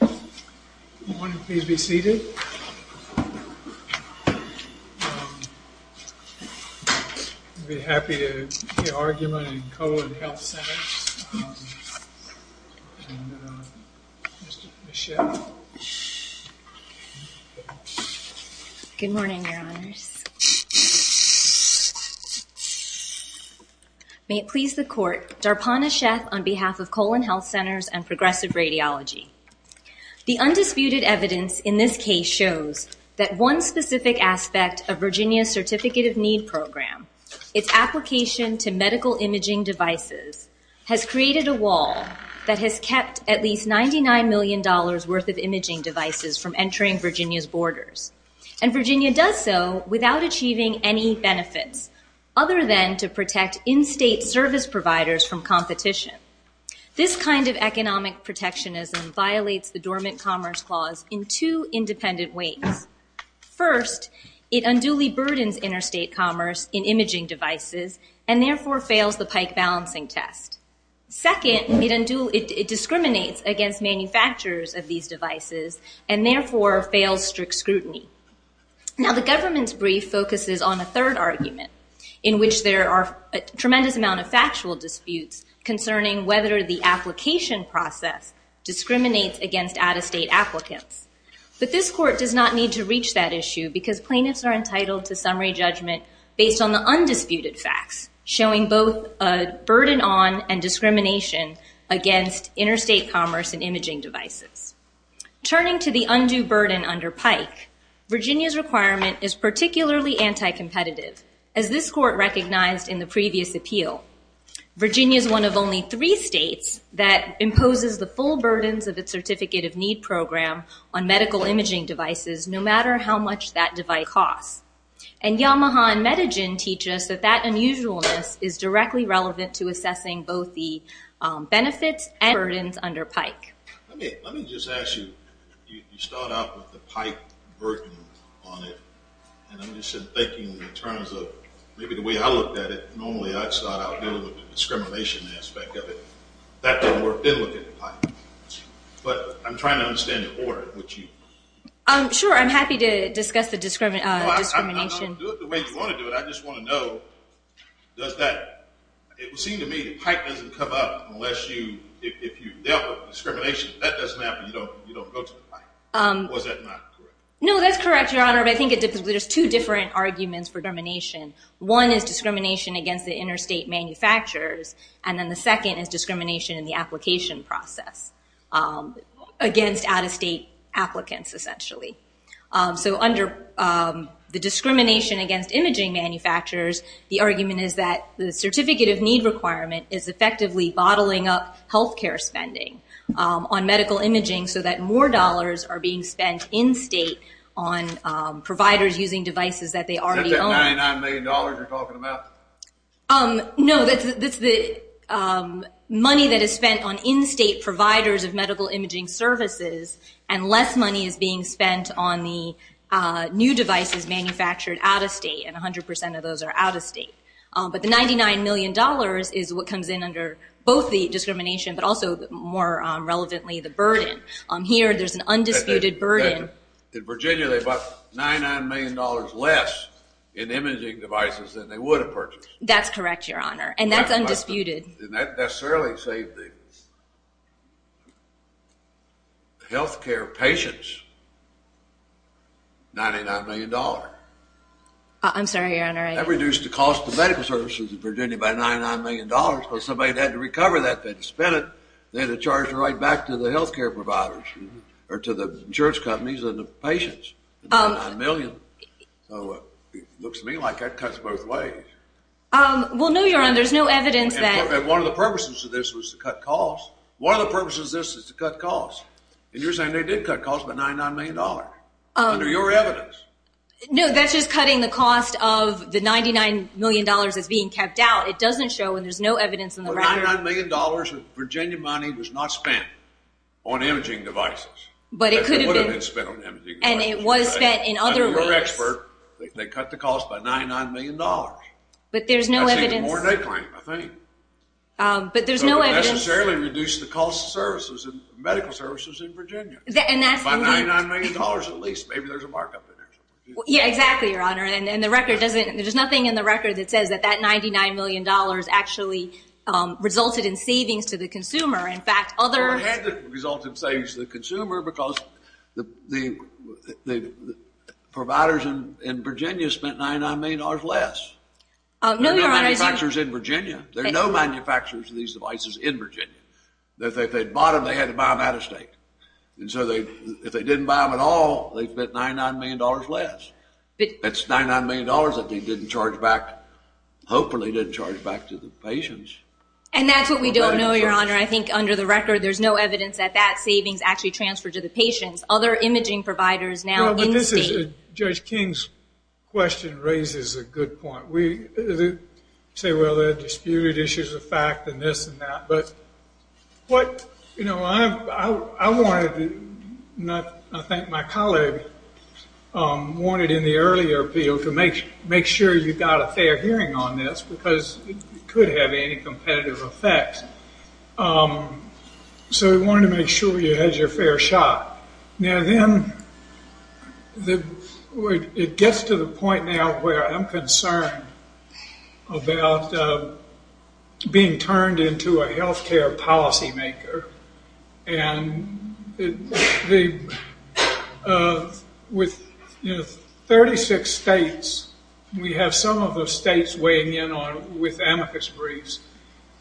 Good morning, please be seated. I'd be happy to hear argument in Colon Health Centers. Good morning, Your Honors. May it please the Court, Darpana Sheth on behalf of Colon Health Centers and Progressive Radiology. The undisputed evidence in this case shows that one specific aspect of Virginia's Certificate of Need program, its application to medical imaging devices, has created a wall that has kept at least $99 million worth of imaging devices from entering Virginia's borders. And Virginia does so without achieving any benefits, other than to protect in-state service providers from competition. This kind of economic protectionism violates the Dormant Commerce Clause in two independent ways. First, it unduly burdens interstate commerce in imaging devices and therefore fails the pike balancing test. Second, it discriminates against manufacturers of these devices and therefore fails strict scrutiny. Now the government's brief focuses on a third argument in which there are a tremendous amount of factual disputes concerning whether the application process discriminates against out-of-state applicants. But this Court does not need to reach that issue because plaintiffs are entitled to summary judgment based on the undisputed facts, showing both a burden on and discrimination against interstate commerce in imaging devices. Turning to the undue burden under PIKE, Virginia's requirement is particularly anti-competitive, as this Court recognized in the previous appeal. Virginia is one of only three states that imposes the full burdens of its Certificate of Need program on medical imaging devices, no matter how much that device costs. And Yamaha and Medigen teach us that that unusualness is directly relevant to assessing both the benefits and burdens under PIKE. Let me just ask you, you start out with the PIKE burden on it, and I'm just thinking in terms of maybe the way I looked at it, normally I'd start out dealing with the discrimination aspect of it. That didn't work, didn't look at the PIKE. But I'm trying to understand the order in which you... Sure, I'm happy to discuss the discrimination. I'm not going to do it the way you want to do it. I just want to know, does that... It would seem to me that PIKE doesn't come up unless you... If you dealt with discrimination, if that doesn't happen, you don't go to PIKE. Or is that not correct? No, that's correct, Your Honor, but I think there's two different arguments for termination. One is discrimination against the interstate manufacturers, and then the second is discrimination in the application process against out-of-state applicants, essentially. So under the discrimination against imaging manufacturers, the argument is that the certificate of need requirement is effectively bottling up health care spending on medical imaging so that more dollars are being spent in-state on providers using devices that they already own. Is that that $99 million you're talking about? No, that's the money that is spent on in-state providers of medical imaging services, and less money is being spent on the new devices manufactured out-of-state, and 100% of those are out-of-state. But the $99 million is what comes in under both the discrimination but also more relevantly the burden. Here there's an undisputed burden. In Virginia they bought $99 million less in imaging devices than they would have purchased. That's correct, Your Honor, and that's undisputed. And that necessarily saved the health care patients $99 million. I'm sorry, Your Honor. That reduced the cost of medical services in Virginia by $99 million, but somebody had to recover that, they had to spend it, they had to charge it right back to the health care providers, or to the insurance companies and the patients, $99 million. So it looks to me like that cuts both ways. Well, no, Your Honor, there's no evidence that- One of the purposes of this was to cut costs. One of the purposes of this is to cut costs, and you're saying they did cut costs by $99 million under your evidence. No, that's just cutting the cost of the $99 million that's being kept out. It doesn't show when there's no evidence in the record. $99 million of Virginia money was not spent on imaging devices. But it could have been. It would have been spent on imaging devices. And it was spent in other ways. You're an expert. They cut the cost by $99 million. But there's no evidence. That's even more than they claim, I think. But there's no evidence. So it necessarily reduced the cost of medical services in Virginia by $99 million at least. Maybe there's a markup in there somewhere. Yeah, exactly, Your Honor. There's nothing in the record that says that that $99 million actually resulted in savings to the consumer. In fact, other- Well, it had resulted in savings to the consumer because the providers in Virginia spent $99 million less. No, Your Honor. There are no manufacturers in Virginia. There are no manufacturers of these devices in Virginia. If they bought them, they had to buy them out of state. And so if they didn't buy them at all, they spent $99 million less. It's $99 million that they didn't charge back, hopefully didn't charge back to the patients. And that's what we don't know, Your Honor. I think under the record there's no evidence that that savings actually transferred to the patients. Other imaging providers now in state- Well, but this is- Judge King's question raises a good point. We say, well, there are disputed issues of fact and this and that. But, you know, I wanted- I think my colleague wanted in the earlier appeal to make sure you got a fair hearing on this because it could have any competitive effect. So we wanted to make sure you had your fair shot. Now then, it gets to the point now where I'm concerned about being turned into a healthcare policymaker. And with 36 states, we have some of those states weighing in with amicus briefs,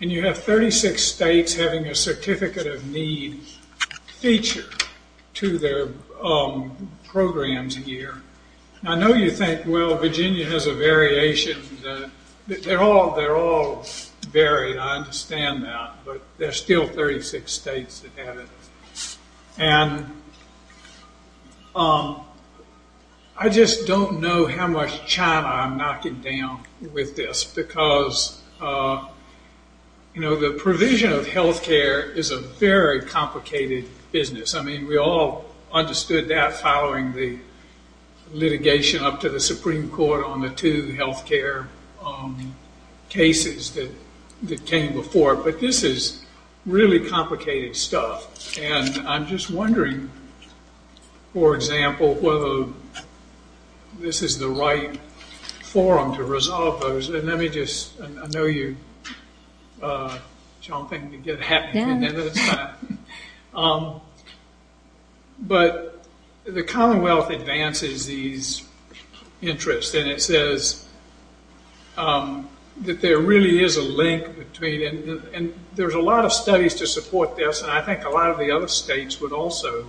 and you have 36 states having a certificate of need feature to their programs here. I know you think, well, Virginia has a variation. They're all varied, I understand that, but there's still 36 states that have it. And I just don't know how much China I'm knocking down with this because, you know, the provision of healthcare is a very complicated business. I mean, we all understood that following the litigation up to the Supreme Court on the two healthcare cases that came before. But this is really complicated stuff. And I'm just wondering, for example, whether this is the right forum to resolve those. And let me just- I know you're jumping to get happy at the end of the time. But the Commonwealth advances these interests, and it says that there really is a link between- and there's a lot of studies to support this, and I think a lot of the other states would also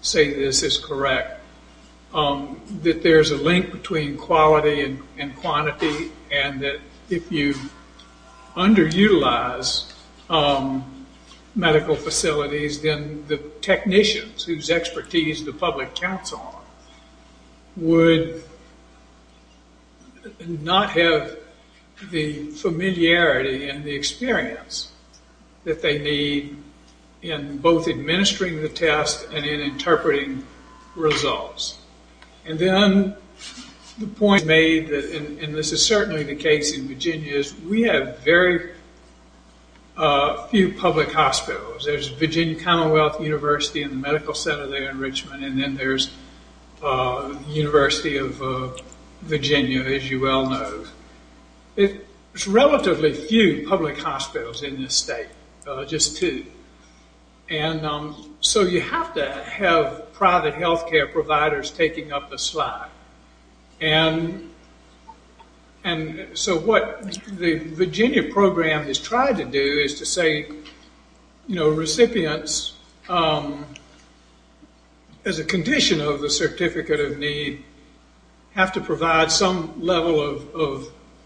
say this is correct- that there's a link between quality and quantity, and that if you underutilize medical facilities, then the technicians whose expertise the public counts on would not have the familiarity and the experience that they need in both administering the test and in interpreting results. And then the point made, and this is certainly the case in Virginia, is we have very few public hospitals. There's Virginia Commonwealth University and the Medical Center there in Richmond, and then there's the University of Virginia, as you well know. There's relatively few public hospitals in this state, just two. And so you have to have private health care providers taking up the slack. And so what the Virginia program has tried to do is to say, you know, of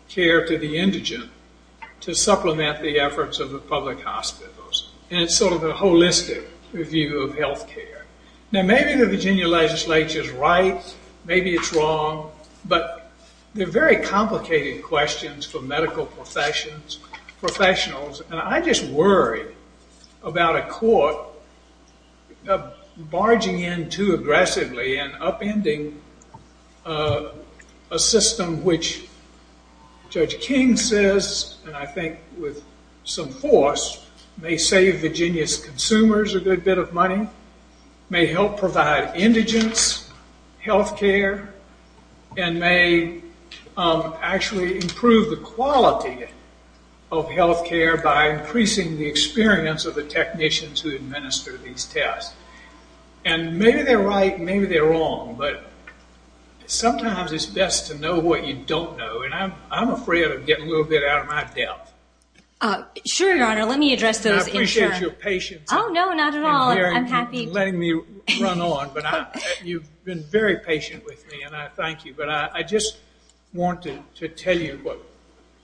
care to the indigent to supplement the efforts of the public hospitals. And it's sort of a holistic review of health care. Now maybe the Virginia legislature's right, maybe it's wrong, but they're very complicated questions for medical professionals, and I just worry about a court barging in too aggressively and upending a system which Judge King says, and I think with some force, may save Virginia's consumers a good bit of money, may help provide indigents health care, and may actually improve the quality of health care by increasing the experience of the technicians who administer these tests. And maybe they're right, maybe they're wrong, but sometimes it's best to know what you don't know, and I'm afraid of getting a little bit out of my depth. Sure, Your Honor, let me address those issues. I appreciate your patience. Oh, no, not at all. I'm happy. And letting me run on, but you've been very patient with me, and I thank you. But I just wanted to tell you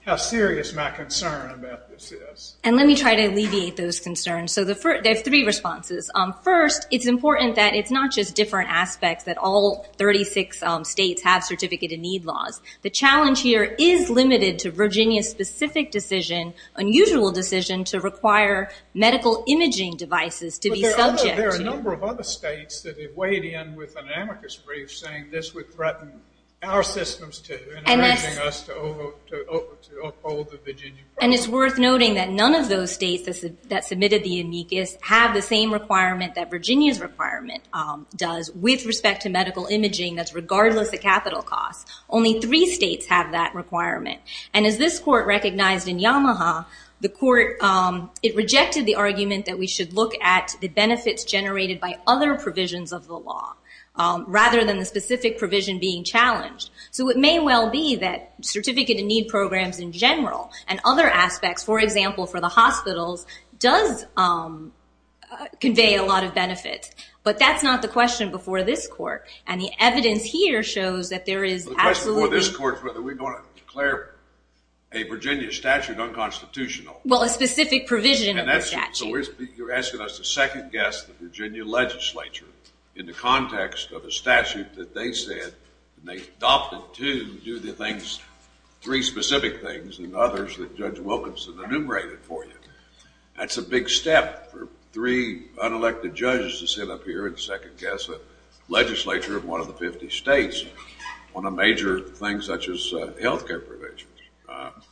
how serious my concern about this is. And let me try to alleviate those concerns. So there are three responses. First, it's important that it's not just different aspects, that all 36 states have certificate of need laws. The challenge here is limited to Virginia's specific decision, unusual decision, to require medical imaging devices to be subject to. But there are a number of other states that have weighed in with an amicus brief, saying this would threaten our systems, encouraging us to uphold the Virginia program. And it's worth noting that none of those states that submitted the amicus have the same requirement that Virginia's requirement does with respect to medical imaging, that's regardless of capital costs. Only three states have that requirement. And as this court recognized in Yamaha, it rejected the argument that we should look at the benefits generated by other provisions of the law rather than the specific provision being challenged. So it may well be that certificate of need programs in general and other aspects, for example, for the hospitals, does convey a lot of benefit. But that's not the question before this court. And the evidence here shows that there is absolutely... The question before this court is whether we're going to declare a Virginia statute unconstitutional. Well, a specific provision of the statute. So you're asking us to second-guess the Virginia legislature in the context of a statute that they said and they adopted to do the things, three specific things, and others that Judge Wilkinson enumerated for you. That's a big step for three unelected judges to sit up here and second-guess a legislature of one of the 50 states on a major thing such as health care provisions.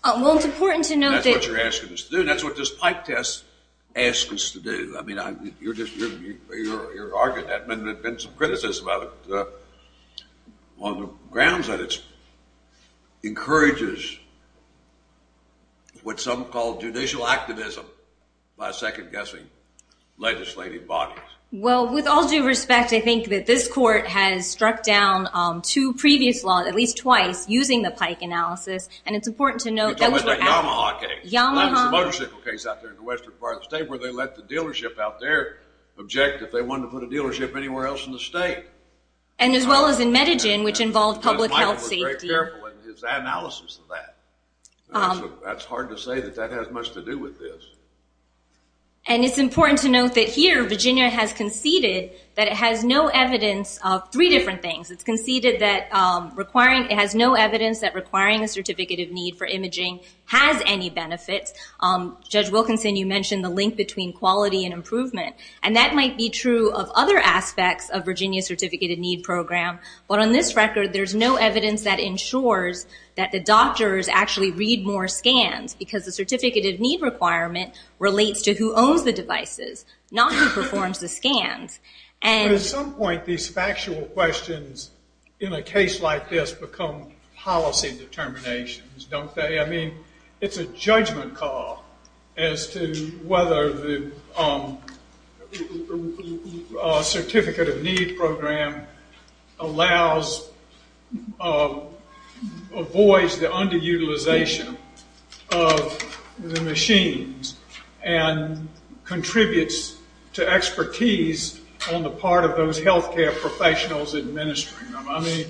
Well, it's important to note that... That's what you're asking us to do. That's what this pipe test asks us to do. I mean, you're arguing that and there's been some criticism of it on the grounds that it encourages what some call judicial activism by second-guessing legislative bodies. Well, with all due respect, I think that this court has struck down two previous laws, at least twice, using the pike analysis, and it's important to note... You're talking about the Yamaha case. Yamaha. There's a motorcycle case out there in the western part of the state where they let the dealership out there object if they wanted to put a dealership anywhere else in the state. And as well as in Medigen, which involved public health safety. Judge Michael was very careful in his analysis of that. That's hard to say that that has much to do with this. And it's important to note that here Virginia has conceded that it has no evidence of three different things. It's conceded that it has no evidence that requiring a certificate of need for imaging has any benefits. Judge Wilkinson, you mentioned the link between quality and improvement, and that might be true of other aspects of Virginia's certificate of need program, but on this record there's no evidence that ensures that the doctors actually read more scans because the certificate of need requirement relates to who owns the devices, not who performs the scans. But at some point these factual questions in a case like this become policy determinations. It's a judgment call as to whether the certificate of need program avoids the underutilization of the machines and contributes to expertise on the part of those health care professionals administering them. I mean,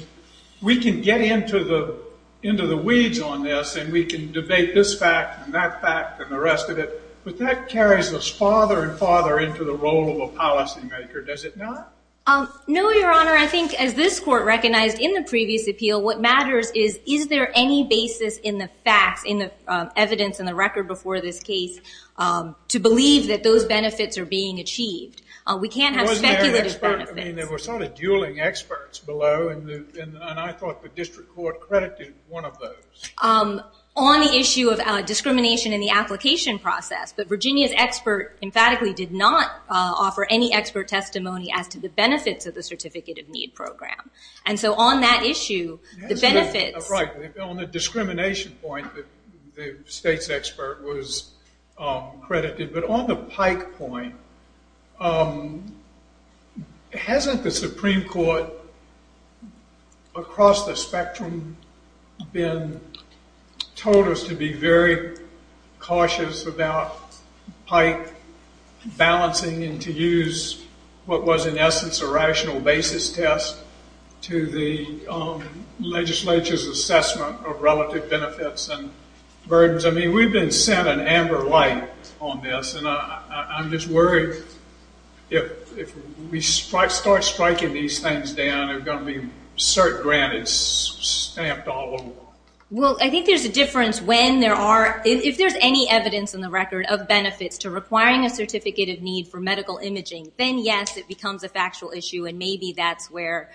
we can get into the weeds on this, and we can debate this fact and that fact and the rest of it, but that carries us farther and farther into the role of a policymaker, does it not? No, Your Honor. I think as this Court recognized in the previous appeal, what matters is is there any basis in the facts, in the evidence, in the record before this case to believe that those benefits are being achieved. We can't have speculative benefits. I mean, there were sort of dueling experts below, and I thought the District Court credited one of those. On the issue of discrimination in the application process, but Virginia's expert emphatically did not offer any expert testimony as to the benefits of the certificate of need program. And so on that issue, the benefits- Right. On the discrimination point, the State's expert was credited, but on the Pike point, hasn't the Supreme Court across the spectrum been told us to be very cautious about Pike balancing and to use what was in essence a rational basis test to the legislature's assessment of relative benefits and burdens? I mean, we've been sent an amber light on this, and I'm just worried if we start striking these things down, they're going to be cert-granted stamped all over. Well, I think there's a difference when there are- if there's any evidence in the record of benefits to requiring a certificate of need for medical imaging, then yes, it becomes a factual issue, and maybe that's where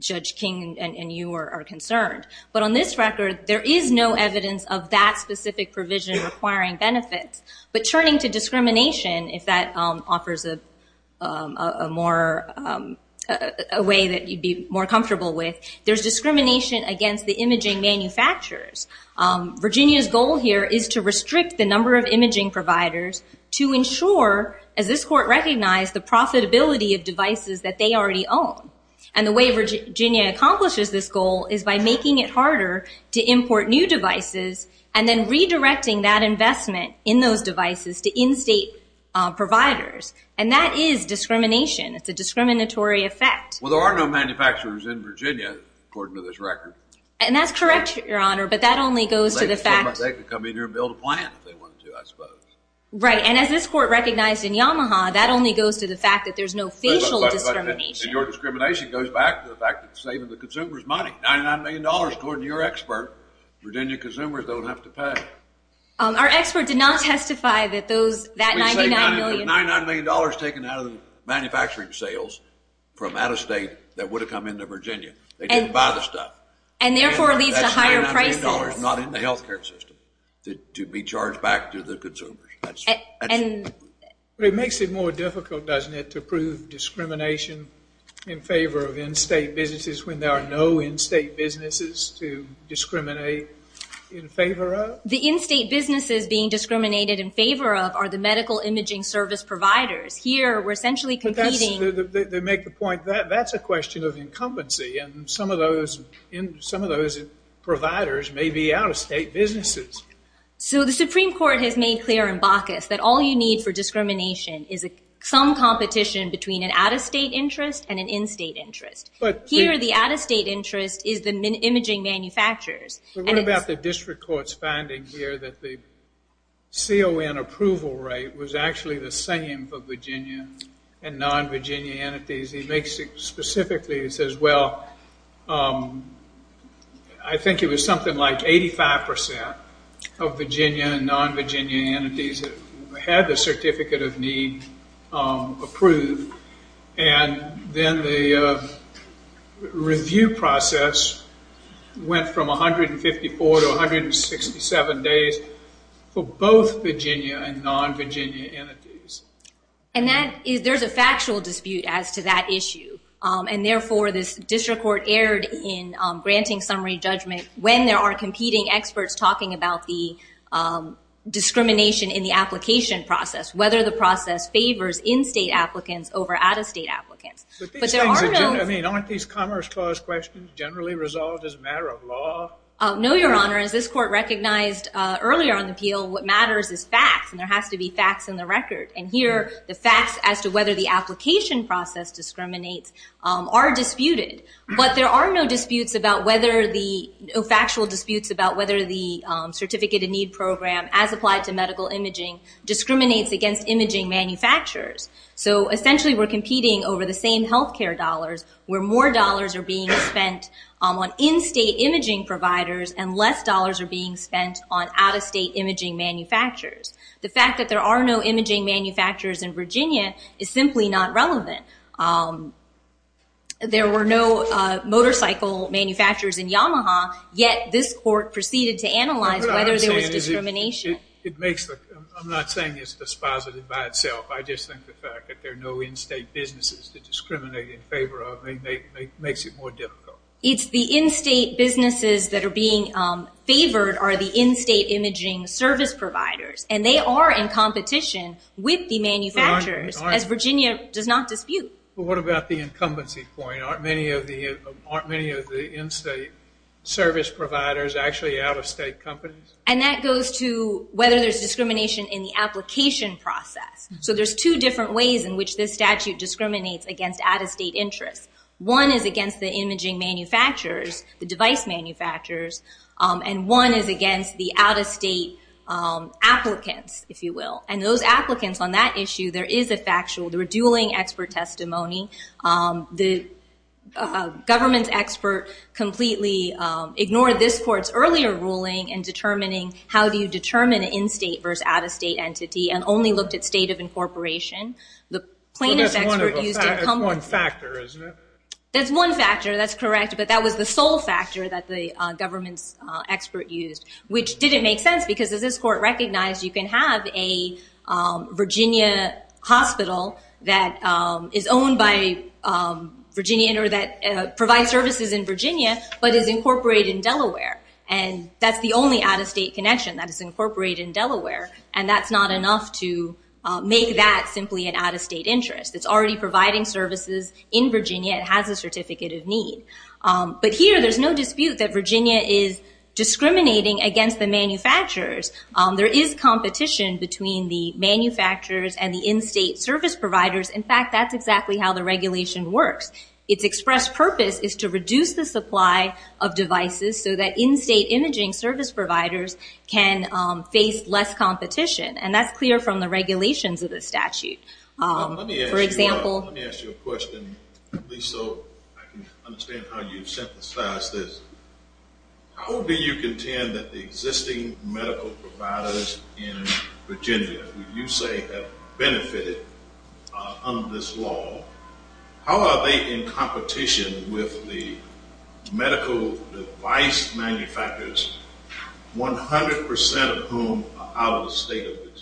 Judge King and you are concerned. But on this record, there is no evidence of that specific provision requiring benefits. But turning to discrimination, if that offers a way that you'd be more comfortable with, there's discrimination against the imaging manufacturers. Virginia's goal here is to restrict the number of imaging providers to ensure, as this Court recognized, the profitability of devices that they already own. And the way Virginia accomplishes this goal is by making it harder to import new devices and then redirecting that investment in those devices to in-state providers, and that is discrimination. It's a discriminatory effect. Well, there are no manufacturers in Virginia, according to this record. And that's correct, Your Honor, but that only goes to the fact- They could come in here and build a plant if they wanted to, I suppose. Right, and as this Court recognized in Yamaha, that only goes to the fact that there's no facial discrimination. But your discrimination goes back to the fact that $99 million, according to your expert, Virginia consumers don't have to pay. Our expert did not testify that those- We say $99 million taken out of the manufacturing sales from out-of-state that would have come into Virginia. They didn't buy the stuff. And therefore it leads to higher prices. That's $99 million not in the health care system to be charged back to the consumers. It makes it more difficult, doesn't it, to prove discrimination in favor of in-state businesses when there are no in-state businesses to discriminate in favor of? The in-state businesses being discriminated in favor of are the medical imaging service providers. Here, we're essentially competing- They make the point that that's a question of incumbency, and some of those providers may be out-of-state businesses. So the Supreme Court has made clear in Bacchus that all you need for discrimination is some competition between an out-of-state interest and an in-state interest. Here, the out-of-state interest is the imaging manufacturers. What about the district court's finding here that the CON approval rate was actually the same for Virginia and non-Virginia entities? He makes it specifically. He says, well, I think it was something like 85% of Virginia and non-Virginia entities that had the certificate of need approved. Then the review process went from 154 to 167 days for both Virginia and non-Virginia entities. There's a factual dispute as to that issue. Therefore, this district court erred in granting summary judgment when there are competing experts talking about the discrimination in the application process, whether the process favors in-state applicants over out-of-state applicants. Aren't these Commerce Clause questions generally resolved as a matter of law? No, Your Honor. As this court recognized earlier on the appeal, what matters is facts, and there has to be facts in the record. Here, the facts as to whether the application process discriminates are disputed. But there are no factual disputes about whether the certificate of need program, as applied to medical imaging, discriminates against imaging manufacturers. Essentially, we're competing over the same health care dollars, where more dollars are being spent on in-state imaging providers and less dollars are being spent on out-of-state imaging manufacturers. The fact that there are no imaging manufacturers in Virginia is simply not relevant. There were no motorcycle manufacturers in Yamaha, yet this court proceeded to analyze whether there was discrimination. I'm not saying it's dispositive by itself. I just think the fact that there are no in-state businesses to discriminate in favor of makes it more difficult. It's the in-state businesses that are being favored are the in-state imaging service providers, and they are in competition with the manufacturers, as Virginia does not dispute. But what about the incumbency point? Aren't many of the in-state service providers actually out-of-state companies? And that goes to whether there's discrimination in the application process. So there's two different ways in which this statute discriminates against out-of-state interests. One is against the imaging manufacturers, the device manufacturers, and one is against the out-of-state applicants, if you will. And those applicants on that issue, there is a factual, they were dueling expert testimony. The government expert completely ignored this court's earlier ruling in determining how do you determine an in-state versus out-of-state entity, and only looked at state of incorporation. The plaintiff expert used incumbency. That's one factor, isn't it? That's one factor, that's correct, but that was the sole factor that the government's expert used, which didn't make sense, because as this court recognized, you can have a Virginia hospital that is owned by Virginia or that provides services in Virginia, but is incorporated in Delaware. And that's the only out-of-state connection that is incorporated in Delaware, and that's not enough to make that simply an out-of-state interest. It's already providing services in Virginia. It has a certificate of need. But here there's no dispute that Virginia is discriminating against the manufacturers. There is competition between the manufacturers and the in-state service providers. In fact, that's exactly how the regulation works. Its express purpose is to reduce the supply of devices so that in-state imaging service providers can face less competition, and that's clear from the regulations of the statute. Let me ask you a question, at least so I can understand how you synthesize this. How do you contend that the existing medical providers in Virginia, who you say have benefited under this law, how are they in competition with the medical device manufacturers, 100% of whom are out-of-state of Virginia?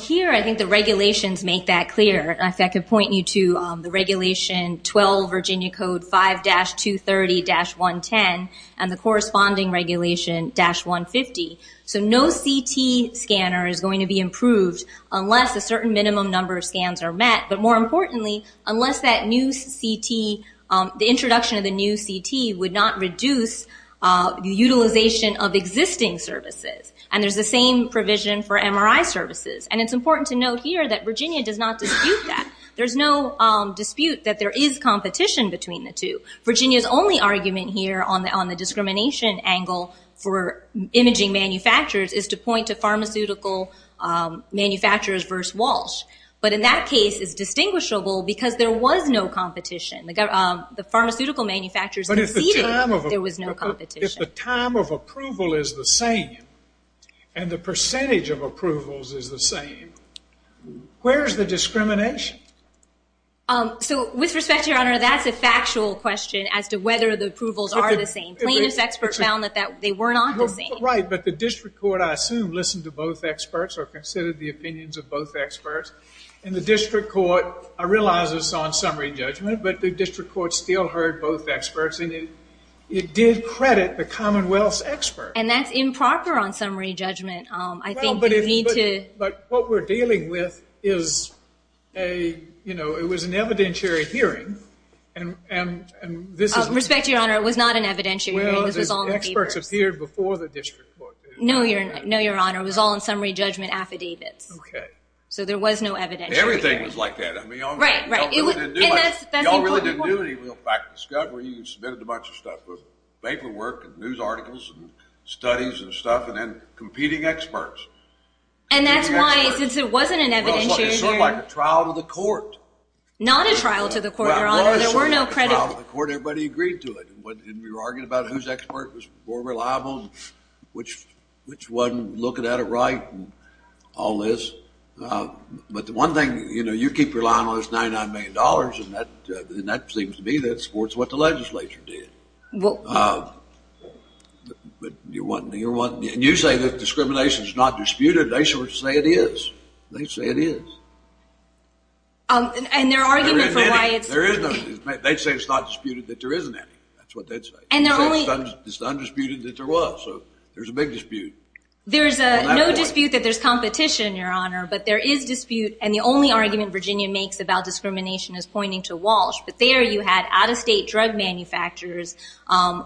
Here I think the regulations make that clear. In fact, I could point you to the Regulation 12, Virginia Code 5-230-110, and the corresponding Regulation 150. So no CT scanner is going to be improved unless a certain minimum number of scans are met. But more importantly, unless that new CT, the introduction of the new CT would not reduce the utilization of existing services. And there's the same provision for MRI services. And it's important to note here that Virginia does not dispute that. There's no dispute that there is competition between the two. Virginia's only argument here on the discrimination angle for imaging manufacturers is to point to pharmaceutical manufacturers versus Walsh. But in that case, it's distinguishable because there was no competition. The pharmaceutical manufacturers conceded there was no competition. But if the time of approval is the same and the percentage of approvals is the same, where is the discrimination? So with respect, Your Honor, that's a factual question as to whether the approvals are the same. Plainness experts found that they were not the same. Right, but the district court, I assume, listened to both experts or considered the opinions of both experts. And the district court, I realize it's on summary judgment, but the district court still heard both experts. And it did credit the Commonwealth's experts. And that's improper on summary judgment. I think you need to... Well, but what we're dealing with is a, you know, it was an evidentiary hearing, and this is... Respect to Your Honor, it was not an evidentiary hearing. Well, the experts appeared before the district court. No, Your Honor, it was all on summary judgment. Okay. So there was no evidentiary hearing. Everything was like that. Right, right. Y'all really didn't do any real fact discovery. You submitted a bunch of stuff with paperwork and news articles and studies and stuff, and then competing experts. And that's why, since it wasn't an evidentiary hearing... Well, it was sort of like a trial to the court. Not a trial to the court, Your Honor. There were no credit... Well, it was sort of like a trial to the court. Everybody agreed to it. And we were arguing about whose expert was more reliable and which wasn't looking at it right and all this. But the one thing, you know, you keep relying on this $99 million, and that seems to me that supports what the legislature did. Well... And you say that discrimination is not disputed. They sort of say it is. They say it is. And their argument for why it's... There is no... They say it's not disputed that there isn't any. That's what they'd say. It's not disputed that there was, so there's a big dispute. There's no dispute that there's competition, Your Honor, but there is dispute, and the only argument Virginia makes about discrimination is pointing to Walsh. But there you had out-of-state drug manufacturers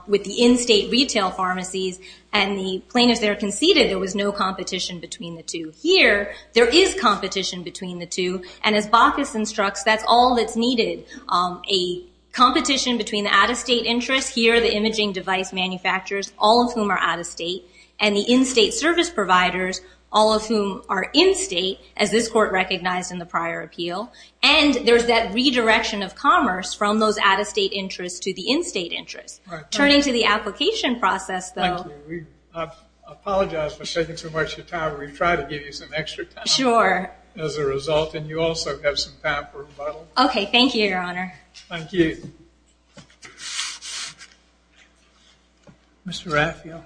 with the in-state retail pharmacies, and the plaintiffs there conceded there was no competition between the two. Here, there is competition between the two, and as Baucus instructs, that's all that's needed. A competition between the out-of-state interests here, the imaging device manufacturers, all of whom are out-of-state, and the in-state service providers, all of whom are in-state, as this court recognized in the prior appeal, and there's that redirection of commerce from those out-of-state interests to the in-state interests. Turning to the application process, though... Thank you. I apologize for taking too much of your time. We've tried to give you some extra time... Sure. ...as a result, and you also have some time for rebuttal. Okay, thank you, Your Honor. Thank you. Mr. Raphael.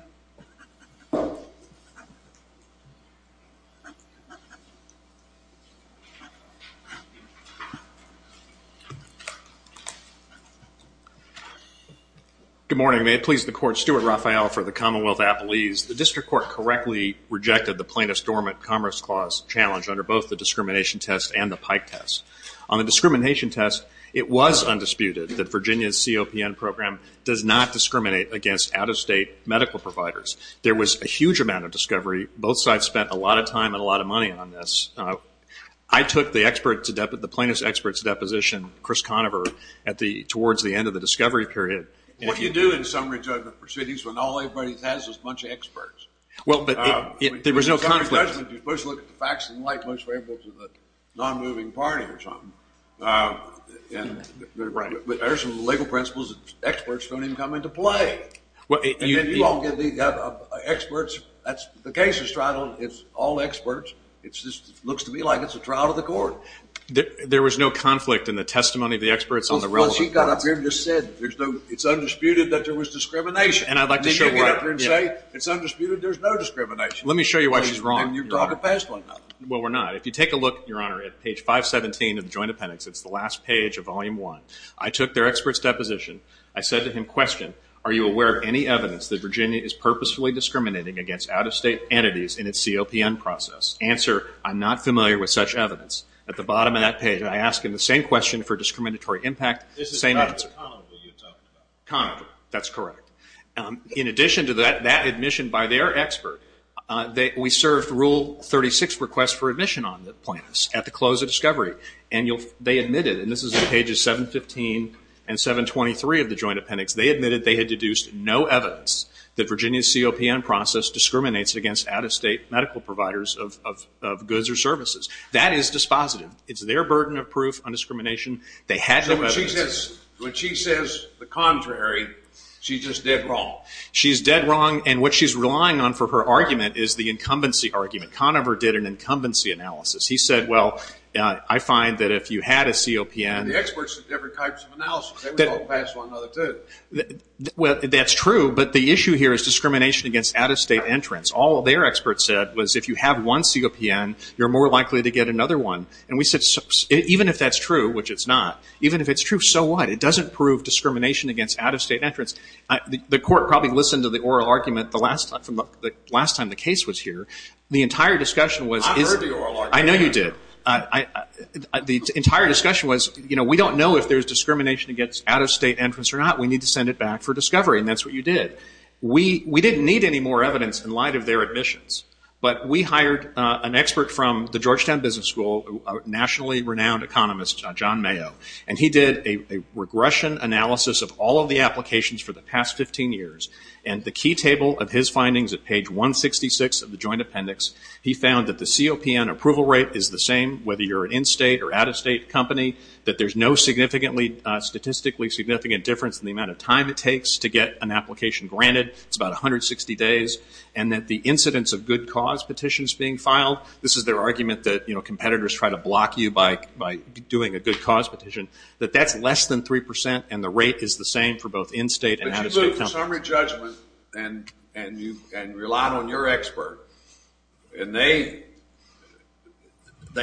Good morning. May it please the Court, Stuart Raphael for the Commonwealth Appellees. The District Court correctly rejected the Plaintiff's Dormant Commerce Clause challenge under both the discrimination test and the Pike test. On the discrimination test, it was undisputed that Virginia's COPN program does not discriminate against out-of-state medical providers. There was a huge amount of discovery. Both sides spent a lot of time and a lot of money on this. I took the plaintiff's expert's deposition, Chris Conover, towards the end of the discovery period... What do you do in summary judgment proceedings when all everybody has is a bunch of experts? Well, but there was no conflict... In summary judgment, you first look at the facts in light, which were able to the non-moving party or something. But there are some legal principles that experts don't even come into play. And then you all get the experts. The case is straddled. It's all experts. It just looks to me like it's a trial to the court. There was no conflict in the testimony of the experts on the relevant... Well, she got up here and just said, it's undisputed that there was discrimination. And I'd like to show... And then you get up here and say, it's undisputed there's no discrimination. Let me show you why she's wrong. Well, we're not. If you take a look, Your Honor, at page 517 of the Joint Appendix, it's the last page of Volume 1. I took their expert's deposition. I said to him, question, are you aware of any evidence that Virginia is purposefully discriminating against out-of-state entities in its COPN process? Answer, I'm not familiar with such evidence. At the bottom of that page, I ask him the same question for discriminatory impact, same answer. This is Dr. Conover you talked about. Conover, that's correct. In addition to that, that admission by their expert, we served Rule 36 request for admission on the plaintiffs at the close of discovery. And they admitted, and this is pages 715 and 723 of the Joint Appendix, they admitted they had deduced no evidence that Virginia's COPN process discriminates against out-of-state medical providers of goods or services. That is dispositive. It's their burden of proof on discrimination. They had no evidence. So when she says the contrary, she's just dead wrong. She's dead wrong, and what she's relying on for her argument is the incumbency argument. Conover did an incumbency analysis. He said, well, I find that if you had a COPN. The experts did different types of analysis. They would all pass one another, too. Well, that's true, but the issue here is discrimination against out-of-state entrants. All their experts said was if you have one COPN, you're more likely to get another one. And we said even if that's true, which it's not, even if it's true, so what? It doesn't prove discrimination against out-of-state entrants. The court probably listened to the oral argument the last time the case was here. The entire discussion was... I heard the oral argument. I know you did. The entire discussion was, you know, we don't know if there's discrimination against out-of-state entrants or not. We need to send it back for discovery, and that's what you did. We didn't need any more evidence in light of their admissions, but we hired an expert from the Georgetown Business School, a nationally renowned economist, John Mayo, and he did a regression analysis of all of the applications for the past 15 years. And the key table of his findings at page 166 of the joint appendix, he found that the COPN approval rate is the same whether you're an in-state or out-of-state company, that there's no statistically significant difference in the amount of time it takes to get an application granted. It's about 160 days. And that the incidence of good cause petitions being filed, this is their argument that, you know, that that's less than 3% and the rate is the same for both in-state and out-of-state companies. But you took the summary judgment and relied on your expert, and they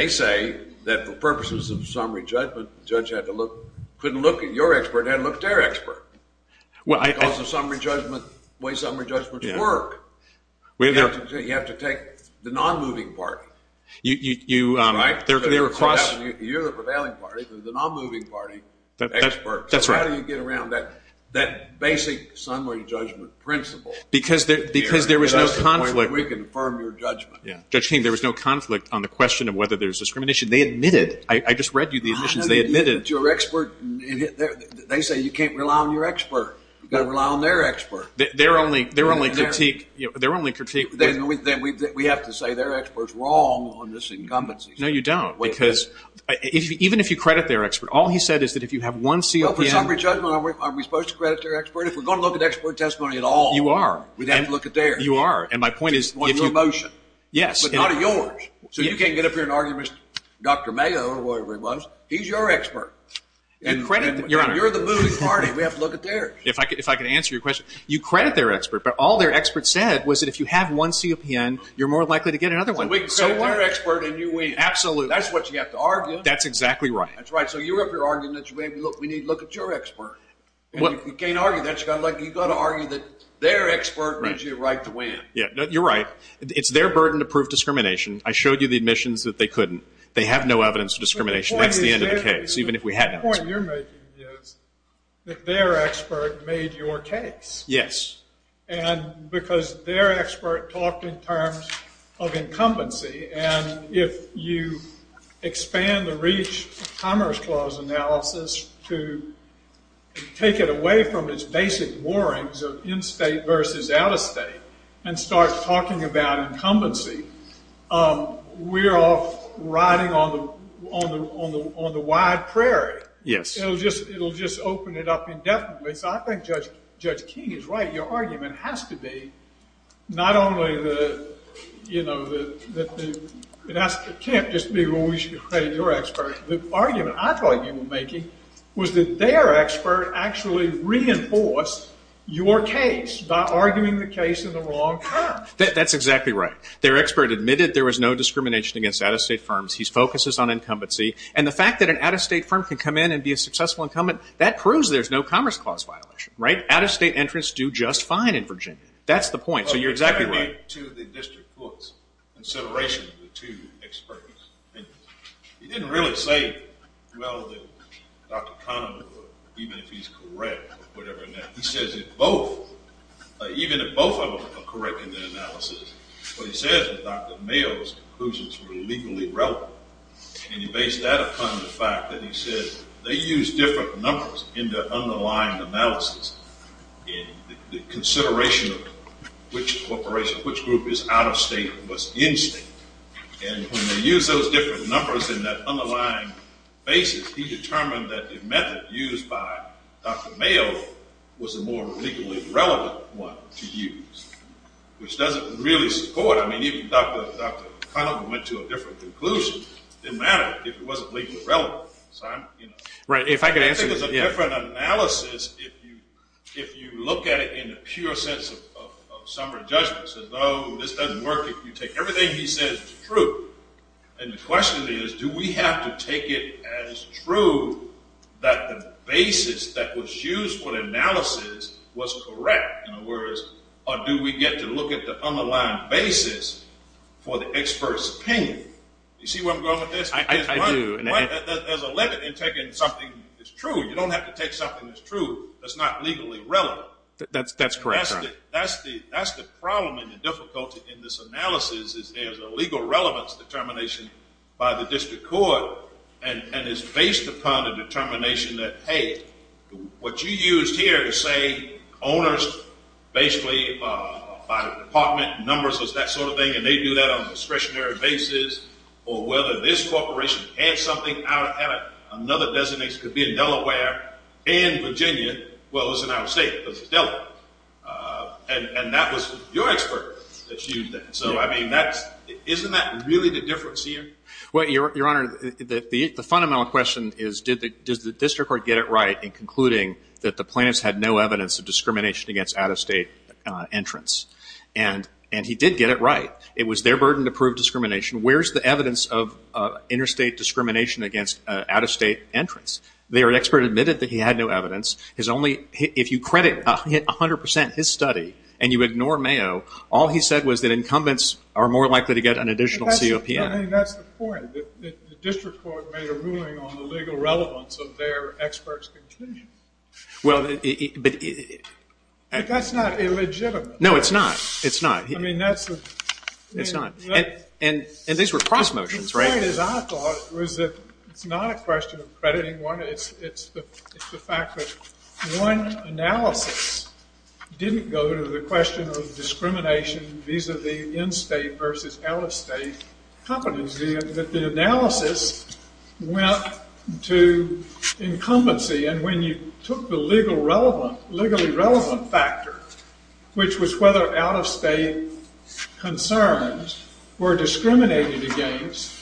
say that for purposes of summary judgment, the judge couldn't look at your expert, they had to look at their expert. Because the way summary judgments work, you have to take the non-moving party. You're the prevailing party, you have to take the non-moving party experts. That's right. So how do you get around that basic summary judgment principle? Because there was no conflict. We can affirm your judgment. Judge King, there was no conflict on the question of whether there's discrimination. They admitted. I just read you the admissions. They admitted. Your expert, they say you can't rely on your expert. You've got to rely on their expert. Their only critique. We have to say their expert's wrong on this incumbency. No, you don't. Because even if you credit their expert, all he said is that if you have one COPN. Well, for summary judgment, are we supposed to credit their expert? If we're going to look at expert testimony at all. You are. We have to look at theirs. You are. And my point is if you. On your motion. Yes. But not on yours. So you can't get up here and argue with Dr. Mayo or whatever he was. He's your expert. And credit. Your Honor. And you're the moving party. We have to look at theirs. If I could answer your question. You credit their expert, but all their expert said was that if you have one COPN, you're more likely to get another one. We credit their expert and you win. Absolutely. That's what you have to argue. That's exactly right. That's right. So you're up here arguing that we need to look at your expert. You can't argue that. You've got to argue that their expert gives you a right to win. You're right. It's their burden to prove discrimination. I showed you the admissions that they couldn't. They have no evidence of discrimination. That's the end of the case, even if we had evidence. The point you're making is that their expert made your case. Yes. And because their expert talked in terms of incumbency, and if you expand the REACH Commerce Clause analysis to take it away from its basic warrings of in-state versus out-of-state and start talking about incumbency, we're off riding on the wide prairie. Yes. It'll just open it up indefinitely. So I think Judge King is right. Your argument has to be not only that it can't just be we should credit your expert. The argument I thought you were making was that their expert actually reinforced your case by arguing the case in the wrong terms. That's exactly right. Their expert admitted there was no discrimination against out-of-state firms. His focus is on incumbency. And the fact that an out-of-state firm can come in and be a successful incumbent, that proves there's no Commerce Clause violation. Right? Out-of-state entrants do just fine in Virginia. That's the point. So you're exactly right. To the district court's consideration of the two experts, he didn't really say, well, that Dr. Kahneman would, even if he's correct or whatever. He says if both, even if both of them are correct in their analysis, what he says is Dr. Mayo's conclusions were legally relevant. And he based that upon the fact that he said they used different numbers in their underlying analysis in the consideration of which corporation, which group is out-of-state and what's in-state. And when they used those different numbers in that underlying basis, he determined that the method used by Dr. Mayo was the more legally relevant one to use, which doesn't really support. I mean, even Dr. Kahneman went to a different conclusion. It didn't matter if it wasn't legally relevant. So I'm, you know. Right. If I could answer. I think it's a different analysis if you look at it in the pure sense of summary judgment. So, no, this doesn't work if you take everything he says is true. And the question is, do we have to take it as true that the basis that was used for the analysis was correct? Or do we get to look at the underlying basis for the expert's opinion? You see where I'm going with this? I do. There's a limit in taking something that's true. You don't have to take something that's true that's not legally relevant. That's correct. That's the problem and the difficulty in this analysis is there's a legal relevance determination by the district court, and it's based upon a determination that, hey, what you used here to say owners, basically, by department numbers is that sort of thing, and they do that on a discretionary basis, or whether this corporation had something, had another designation, could be in Delaware and Virginia. Well, it was in our state. It was in Delaware. And that was your expert that used that. So, I mean, isn't that really the difference here? Well, Your Honor, the fundamental question is, does the district court get it right in concluding that the plaintiffs had no evidence of discrimination against out-of-state entrants? And he did get it right. It was their burden to prove discrimination. Where's the evidence of interstate discrimination against out-of-state entrants? Their expert admitted that he had no evidence. If you credit 100% his study and you ignore Mayo, all he said was that incumbents are more likely to get an additional COPN. I think that's the point. The district court made a ruling on the legal relevance of their expert's conclusion. But that's not illegitimate. No, it's not. It's not. I mean, that's the thing. It's not. And these were cross motions, right? The point, as I thought, was that it's not a question of crediting one. It's the fact that one analysis didn't go to the question of discrimination vis-a-vis in-state versus out-of-state companies. The analysis went to incumbency. And when you took the legally relevant factor, which was whether out-of-state concerns were discriminated against,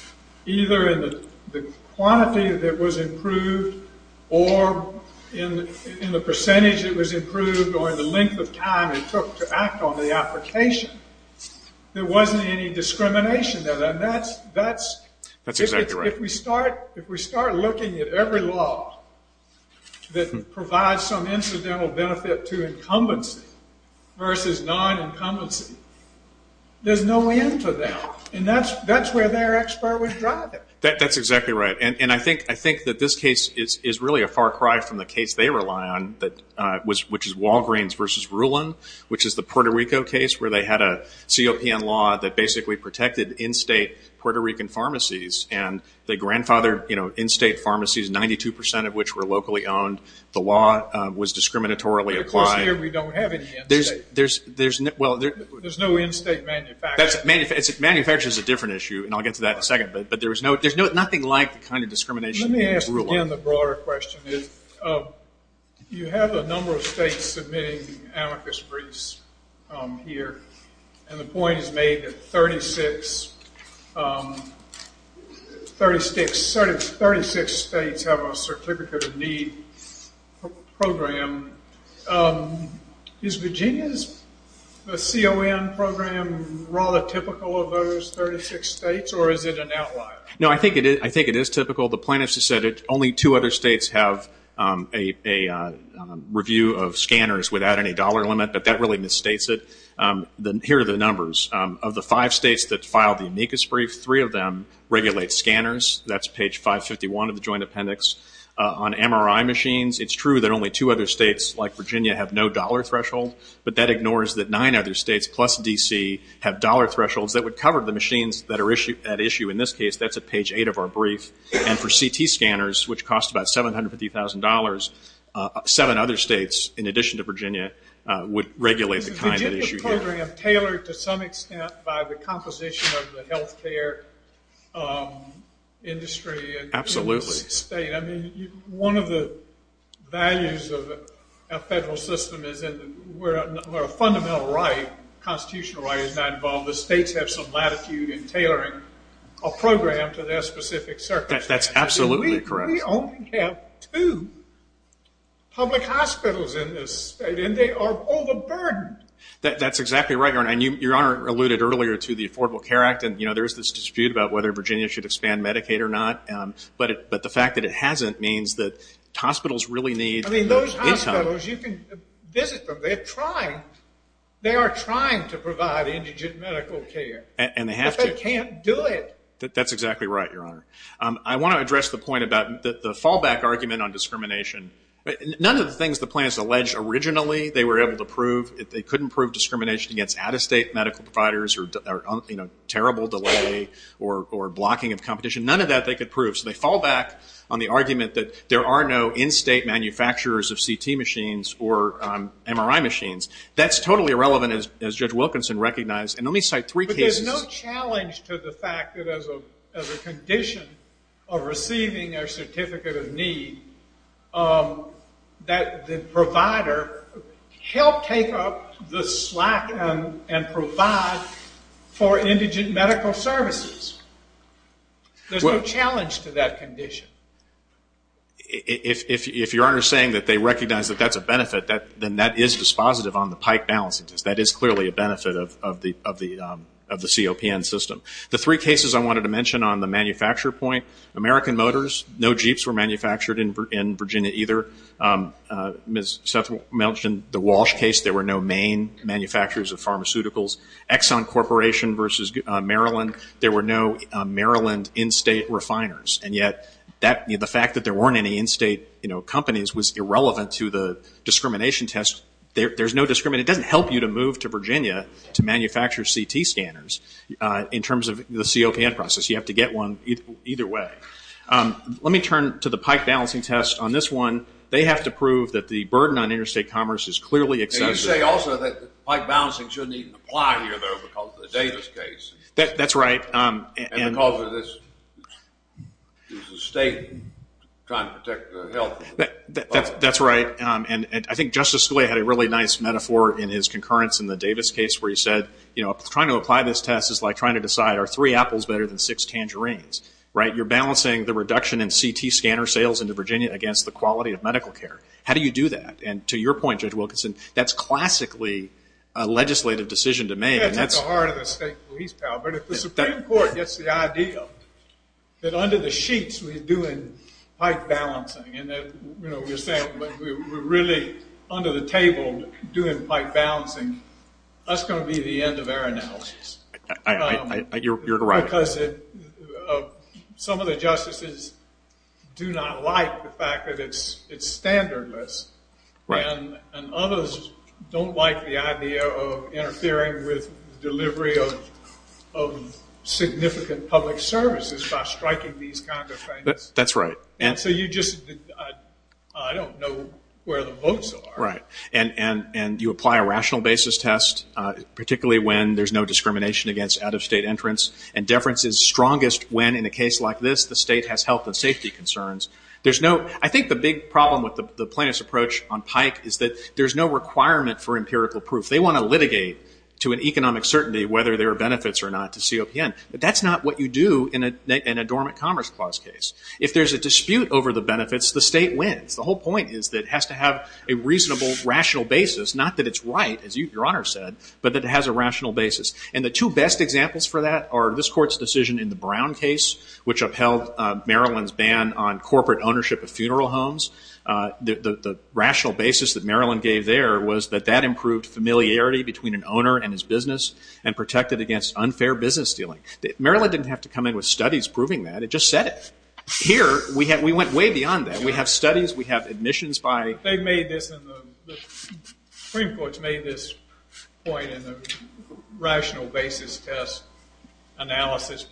either in the quantity that was improved or in the percentage that was improved or in the length of time it took to act on the application, there wasn't any discrimination there. That's exactly right. If we start looking at every law that provides some incidental benefit to incumbency versus non-incumbency, there's no end to that. And that's where their expert was driving. That's exactly right. And I think that this case is really a far cry from the case they rely on, which is Walgreens versus Rulon, which is the Puerto Rico case, where they had a COPN law that basically protected in-state Puerto Rican pharmacies, and they grandfathered in-state pharmacies, 92% of which were locally owned. The law was discriminatorily applied. But of course here we don't have any in-state. There's no in-state manufacturing. Manufacturing is a different issue, and I'll get to that in a second. But there's nothing like the kind of discrimination in Rulon. Let me ask again the broader question. You have a number of states submitting amicus briefs here, and the point is made that 36 states have a certificate of need program. Is Virginia's CON program rather typical of those 36 states, or is it an outlier? No, I think it is typical. The plaintiffs have said only two other states have a review of scanners without any dollar limit, but that really misstates it. Here are the numbers. Of the five states that filed the amicus brief, three of them regulate scanners. That's page 551 of the joint appendix. On MRI machines, it's true that only two other states, like Virginia, have no dollar threshold, but that ignores that nine other states, plus D.C., have dollar thresholds that would cover the machines that issue. In this case, that's at page 8 of our brief. And for CT scanners, which cost about $750,000, seven other states, in addition to Virginia, would regulate the kind that issue here. Is the program tailored to some extent by the composition of the health care industry? Absolutely. One of the values of a federal system is where a fundamental right, a constitutional right is not involved, the states have some latitude in tailoring a program to their specific circumstances. That's absolutely correct. We only have two public hospitals in this state, and they are overburdened. That's exactly right, Your Honor. Your Honor alluded earlier to the Affordable Care Act, and there's this dispute about whether Virginia should expand Medicaid or not, but the fact that it hasn't means that hospitals really need the income. I mean, those hospitals, you can visit them. They are trying to provide indigent medical care. And they have to. But they can't do it. That's exactly right, Your Honor. I want to address the point about the fallback argument on discrimination. None of the things the plaintiffs alleged originally they were able to prove, they couldn't prove discrimination against out-of-state medical providers or terrible delay or blocking of competition, none of that they could prove. So they fall back on the argument that there are no in-state manufacturers of CT machines or MRI machines. That's totally irrelevant, as Judge Wilkinson recognized. And let me cite three cases. But there's no challenge to the fact that as a condition of receiving a certificate of need, that the provider helped take up the slack and provide for indigent medical services. There's no challenge to that condition. If Your Honor is saying that they recognize that that's a benefit, then that is dispositive on the pike balance. That is clearly a benefit of the COPN system. The three cases I wanted to mention on the manufacture point, American Motors, no Jeeps were manufactured in Virginia either. Ms. Seth mentioned the Walsh case. There were no main manufacturers of pharmaceuticals. Exxon Corporation versus Maryland, there were no Maryland in-state refiners. And yet the fact that there weren't any in-state companies was irrelevant to the discrimination test. There's no discrimination. And it doesn't help you to move to Virginia to manufacture CT scanners in terms of the COPN process. You have to get one either way. Let me turn to the pike balancing test. On this one, they have to prove that the burden on interstate commerce is clearly excessive. You say also that pike balancing shouldn't even apply here, though, because of the Davis case. That's right. And because it is the state trying to protect the health of the public. That's right. And I think Justice Scalia had a really nice metaphor in his concurrence in the Davis case where he said, you know, trying to apply this test is like trying to decide are three apples better than six tangerines, right? You're balancing the reduction in CT scanner sales into Virginia against the quality of medical care. How do you do that? And to your point, Judge Wilkinson, that's classically a legislative decision to make. That's at the heart of the state police power. But if the Supreme Court gets the idea that under the sheets we're doing pike balancing and, you know, we're saying we're really under the table doing pike balancing, that's going to be the end of our analysis. You're right. Because some of the justices do not like the fact that it's standardless. Right. And others don't like the idea of interfering with delivery of significant public services by striking these kinds of things. That's right. And so you just don't know where the votes are. Right. And you apply a rational basis test, particularly when there's no discrimination against out-of-state entrance, and deference is strongest when, in a case like this, the state has health and safety concerns. I think the big problem with the plaintiff's approach on pike is that there's no requirement for empirical proof. They want to litigate to an economic certainty whether there are benefits or not to COPN. But that's not what you do in a dormant commerce clause case. If there's a dispute over the benefits, the state wins. The whole point is that it has to have a reasonable rational basis, not that it's right, as Your Honor said, but that it has a rational basis. And the two best examples for that are this Court's decision in the Brown case, which upheld Maryland's ban on corporate ownership of funeral homes. The rational basis that Maryland gave there was that that improved familiarity between an owner and his business and protected against unfair business dealing. Maryland didn't have to come in with studies proving that. They just said it. Here, we went way beyond that. We have studies. We have admissions by. The Supreme Court's made this point in the rational basis test analysis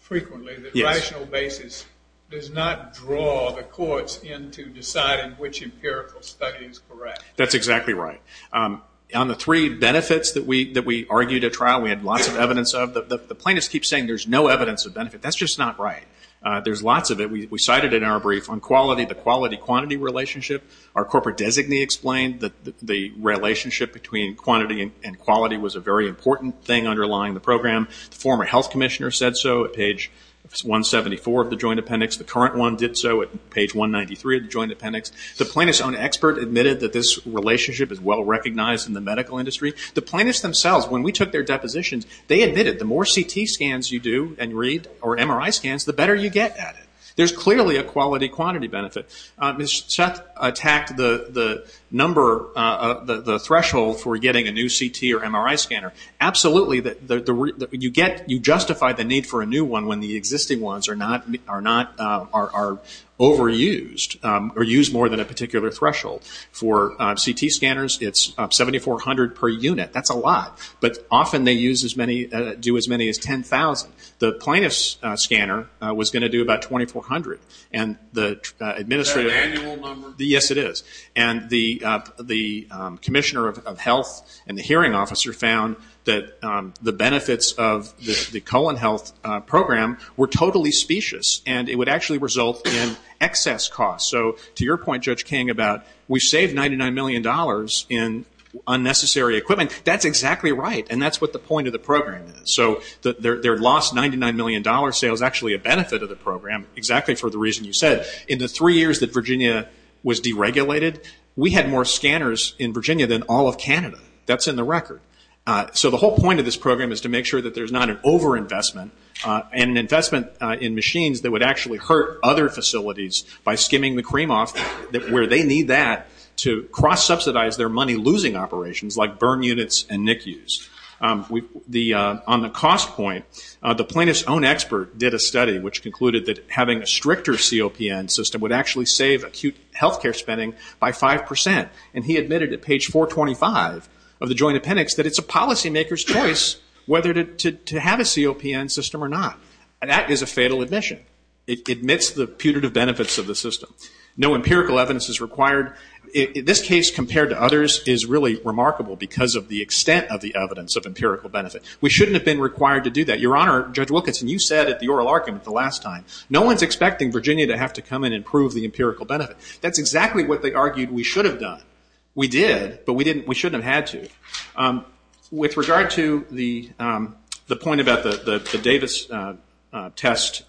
frequently, that rational basis does not draw the courts into deciding which empirical study is correct. That's exactly right. On the three benefits that we argued at trial, we had lots of evidence of, the plaintiffs keep saying there's no evidence of benefit. That's just not right. There's lots of it. We cited it in our brief on quality, the quality-quantity relationship. Our corporate designee explained that the relationship between quantity and quality was a very important thing underlying the program. The former health commissioner said so at page 174 of the joint appendix. The current one did so at page 193 of the joint appendix. The plaintiff's own expert admitted that this relationship is well-recognized in the medical industry. The plaintiffs themselves, when we took their depositions, they admitted the more CT scans you do and read or MRI scans, the better you get at it. There's clearly a quality-quantity benefit. Ms. Seth attacked the threshold for getting a new CT or MRI scanner. Absolutely, you justify the need for a new one when the existing ones are overused or used more than a particular threshold. For CT scanners, it's 7,400 per unit. That's a lot, but often they do as many as 10,000. The plaintiff's scanner was going to do about 2,400. Is that an annual number? Yes, it is. The commissioner of health and the hearing officer found that the benefits of the colon health program were totally specious, and it would actually result in excess costs. So to your point, Judge King, about we saved $99 million in unnecessary equipment. That's exactly right, and that's what the point of the program is. So their lost $99 million sale is actually a benefit of the program, exactly for the reason you said. In the three years that Virginia was deregulated, we had more scanners in Virginia than all of Canada. That's in the record. So the whole point of this program is to make sure that there's not an overinvestment and an investment in machines that would actually hurt other facilities by skimming the cream off where they need that to cross-subsidize their money-losing operations like burn units and NICUs. On the cost point, the plaintiff's own expert did a study which concluded that having a stricter COPN system would actually save acute health care spending by 5%, and he admitted at page 425 of the joint appendix that it's a policymaker's choice whether to have a COPN system or not. That is a fatal admission. It admits the putative benefits of the system. No empirical evidence is required. This case compared to others is really remarkable because of the extent of the evidence of empirical benefit. We shouldn't have been required to do that. Your Honor, Judge Wilkinson, you said at the oral argument the last time, no one's expecting Virginia to have to come in and prove the empirical benefit. That's exactly what they argued we should have done. We did, but we shouldn't have had to. With regard to the point about the Davis test,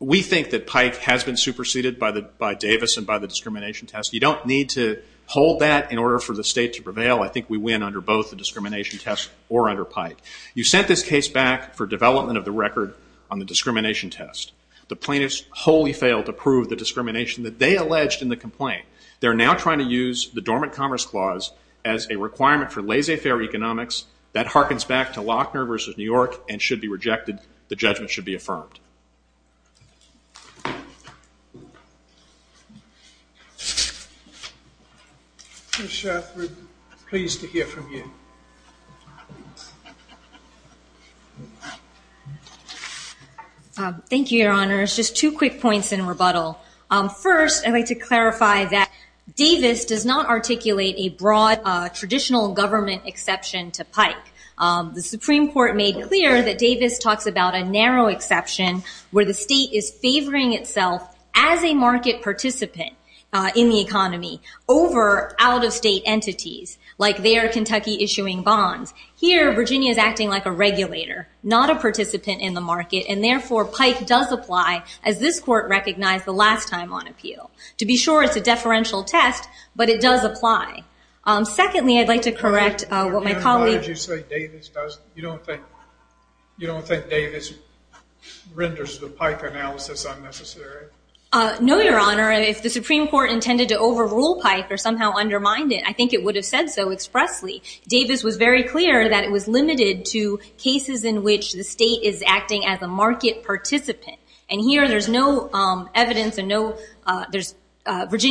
we think that Pike has been superseded by Davis and by the discrimination test. You don't need to hold that in order for the state to prevail. I think we win under both the discrimination test or under Pike. You sent this case back for development of the record on the discrimination test. The plaintiffs wholly failed to prove the discrimination that they alleged in the complaint. They're now trying to use the Dormant Commerce Clause as a requirement for laissez-faire economics. That harkens back to Lochner v. New York and should be rejected. The judgment should be affirmed. Ms. Shathrood, pleased to hear from you. Thank you, Your Honors. Just two quick points in rebuttal. First, I'd like to clarify that Davis does not articulate a broad traditional government exception to Pike. The Supreme Court made clear that Davis talks about a narrow exception where the state is favoring itself as a market participant in the economy over out-of-state entities, like their Kentucky-issuing bonds. Here, Virginia is acting like a regulator, not a participant in the market, and therefore Pike does apply, as this Court recognized the last time on appeal. To be sure, it's a deferential test, but it does apply. Secondly, I'd like to correct what my colleague- You don't think Davis renders the Pike analysis unnecessary? No, Your Honor. If the Supreme Court intended to overrule Pike or somehow undermine it, I think it would have said so expressly. Davis was very clear that it was limited to cases in which the state is acting as a market participant. Here, Virginia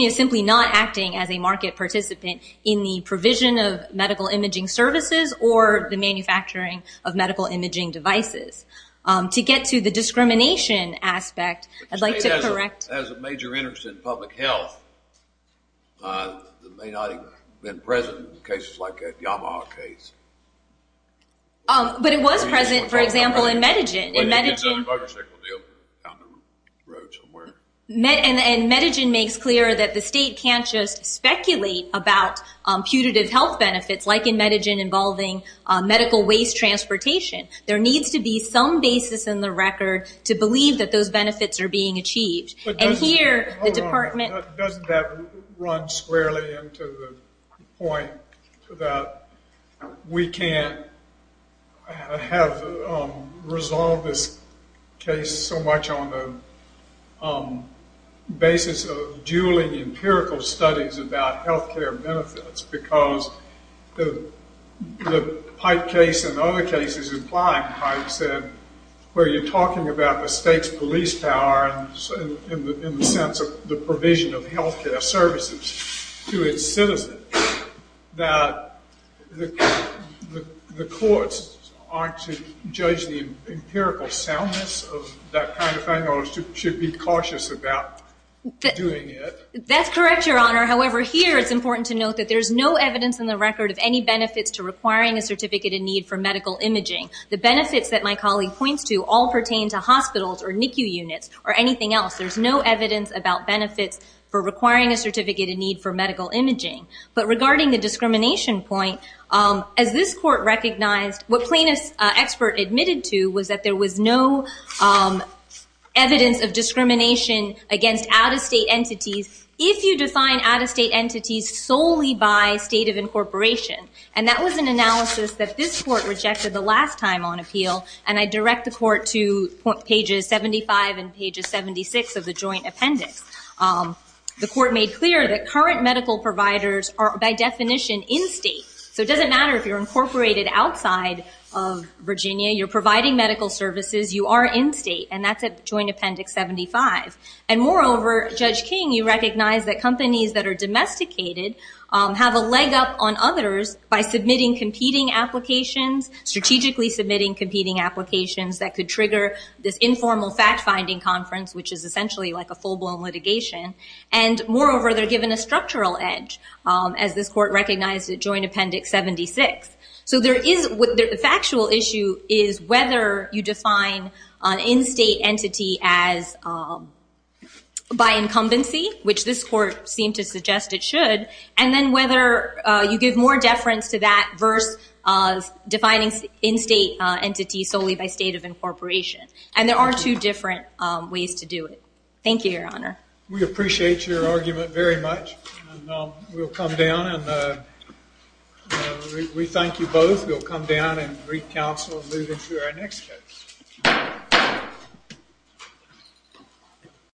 is simply not acting as a market participant in the provision of medical imaging services or the manufacturing of medical imaging devices. To get to the discrimination aspect, I'd like to correct- As a major interest in public health, it may not have been present in cases like the Yamaha case. But it was present, for example, in Medigen. And Medigen makes clear that the state can't just speculate about putative health benefits, like in Medigen involving medical waste transportation. There needs to be some basis in the record to believe that those benefits are being achieved. Hold on. Doesn't that run squarely into the point that we can't have resolved this case so much on the basis of dueling empirical studies about health care benefits? Because the Pike case and other cases implying Pike said, where you're talking about the state's police power in the sense of the provision of health care services to its citizens, that the courts aren't to judge the empirical soundness of that kind of thing or should be cautious about doing it. That's correct, Your Honor. However, here it's important to note that there's no evidence in the record of any benefits to requiring a certificate in need for medical imaging. The benefits that my colleague points to all pertain to hospitals or NICU units or anything else. There's no evidence about benefits for requiring a certificate in need for medical imaging. But regarding the discrimination point, as this court recognized, what Plano's expert admitted to was that there was no evidence of discrimination against out-of-state entities if you define out-of-state entities solely by state of incorporation. And that was an analysis that this court rejected the last time on appeal. And I direct the court to pages 75 and pages 76 of the joint appendix. The court made clear that current medical providers are, by definition, in-state. So it doesn't matter if you're incorporated outside of Virginia. You're providing medical services. You are in-state. And that's at joint appendix 75. And moreover, Judge King, you recognize that companies that are domesticated have a leg up on others by submitting competing applications, strategically submitting competing applications that could trigger this informal fact-finding conference, which is essentially like a full-blown litigation. And moreover, they're given a structural edge, as this court recognized at joint appendix 76. So the factual issue is whether you define an in-state entity by incumbency, which this court seemed to suggest it should, and then whether you give more deference to that versus defining in-state entities solely by state of incorporation. And there are two different ways to do it. Thank you, Your Honor. We appreciate your argument very much. And we'll come down and we thank you both. We'll come down and re-counsel and move into our next case.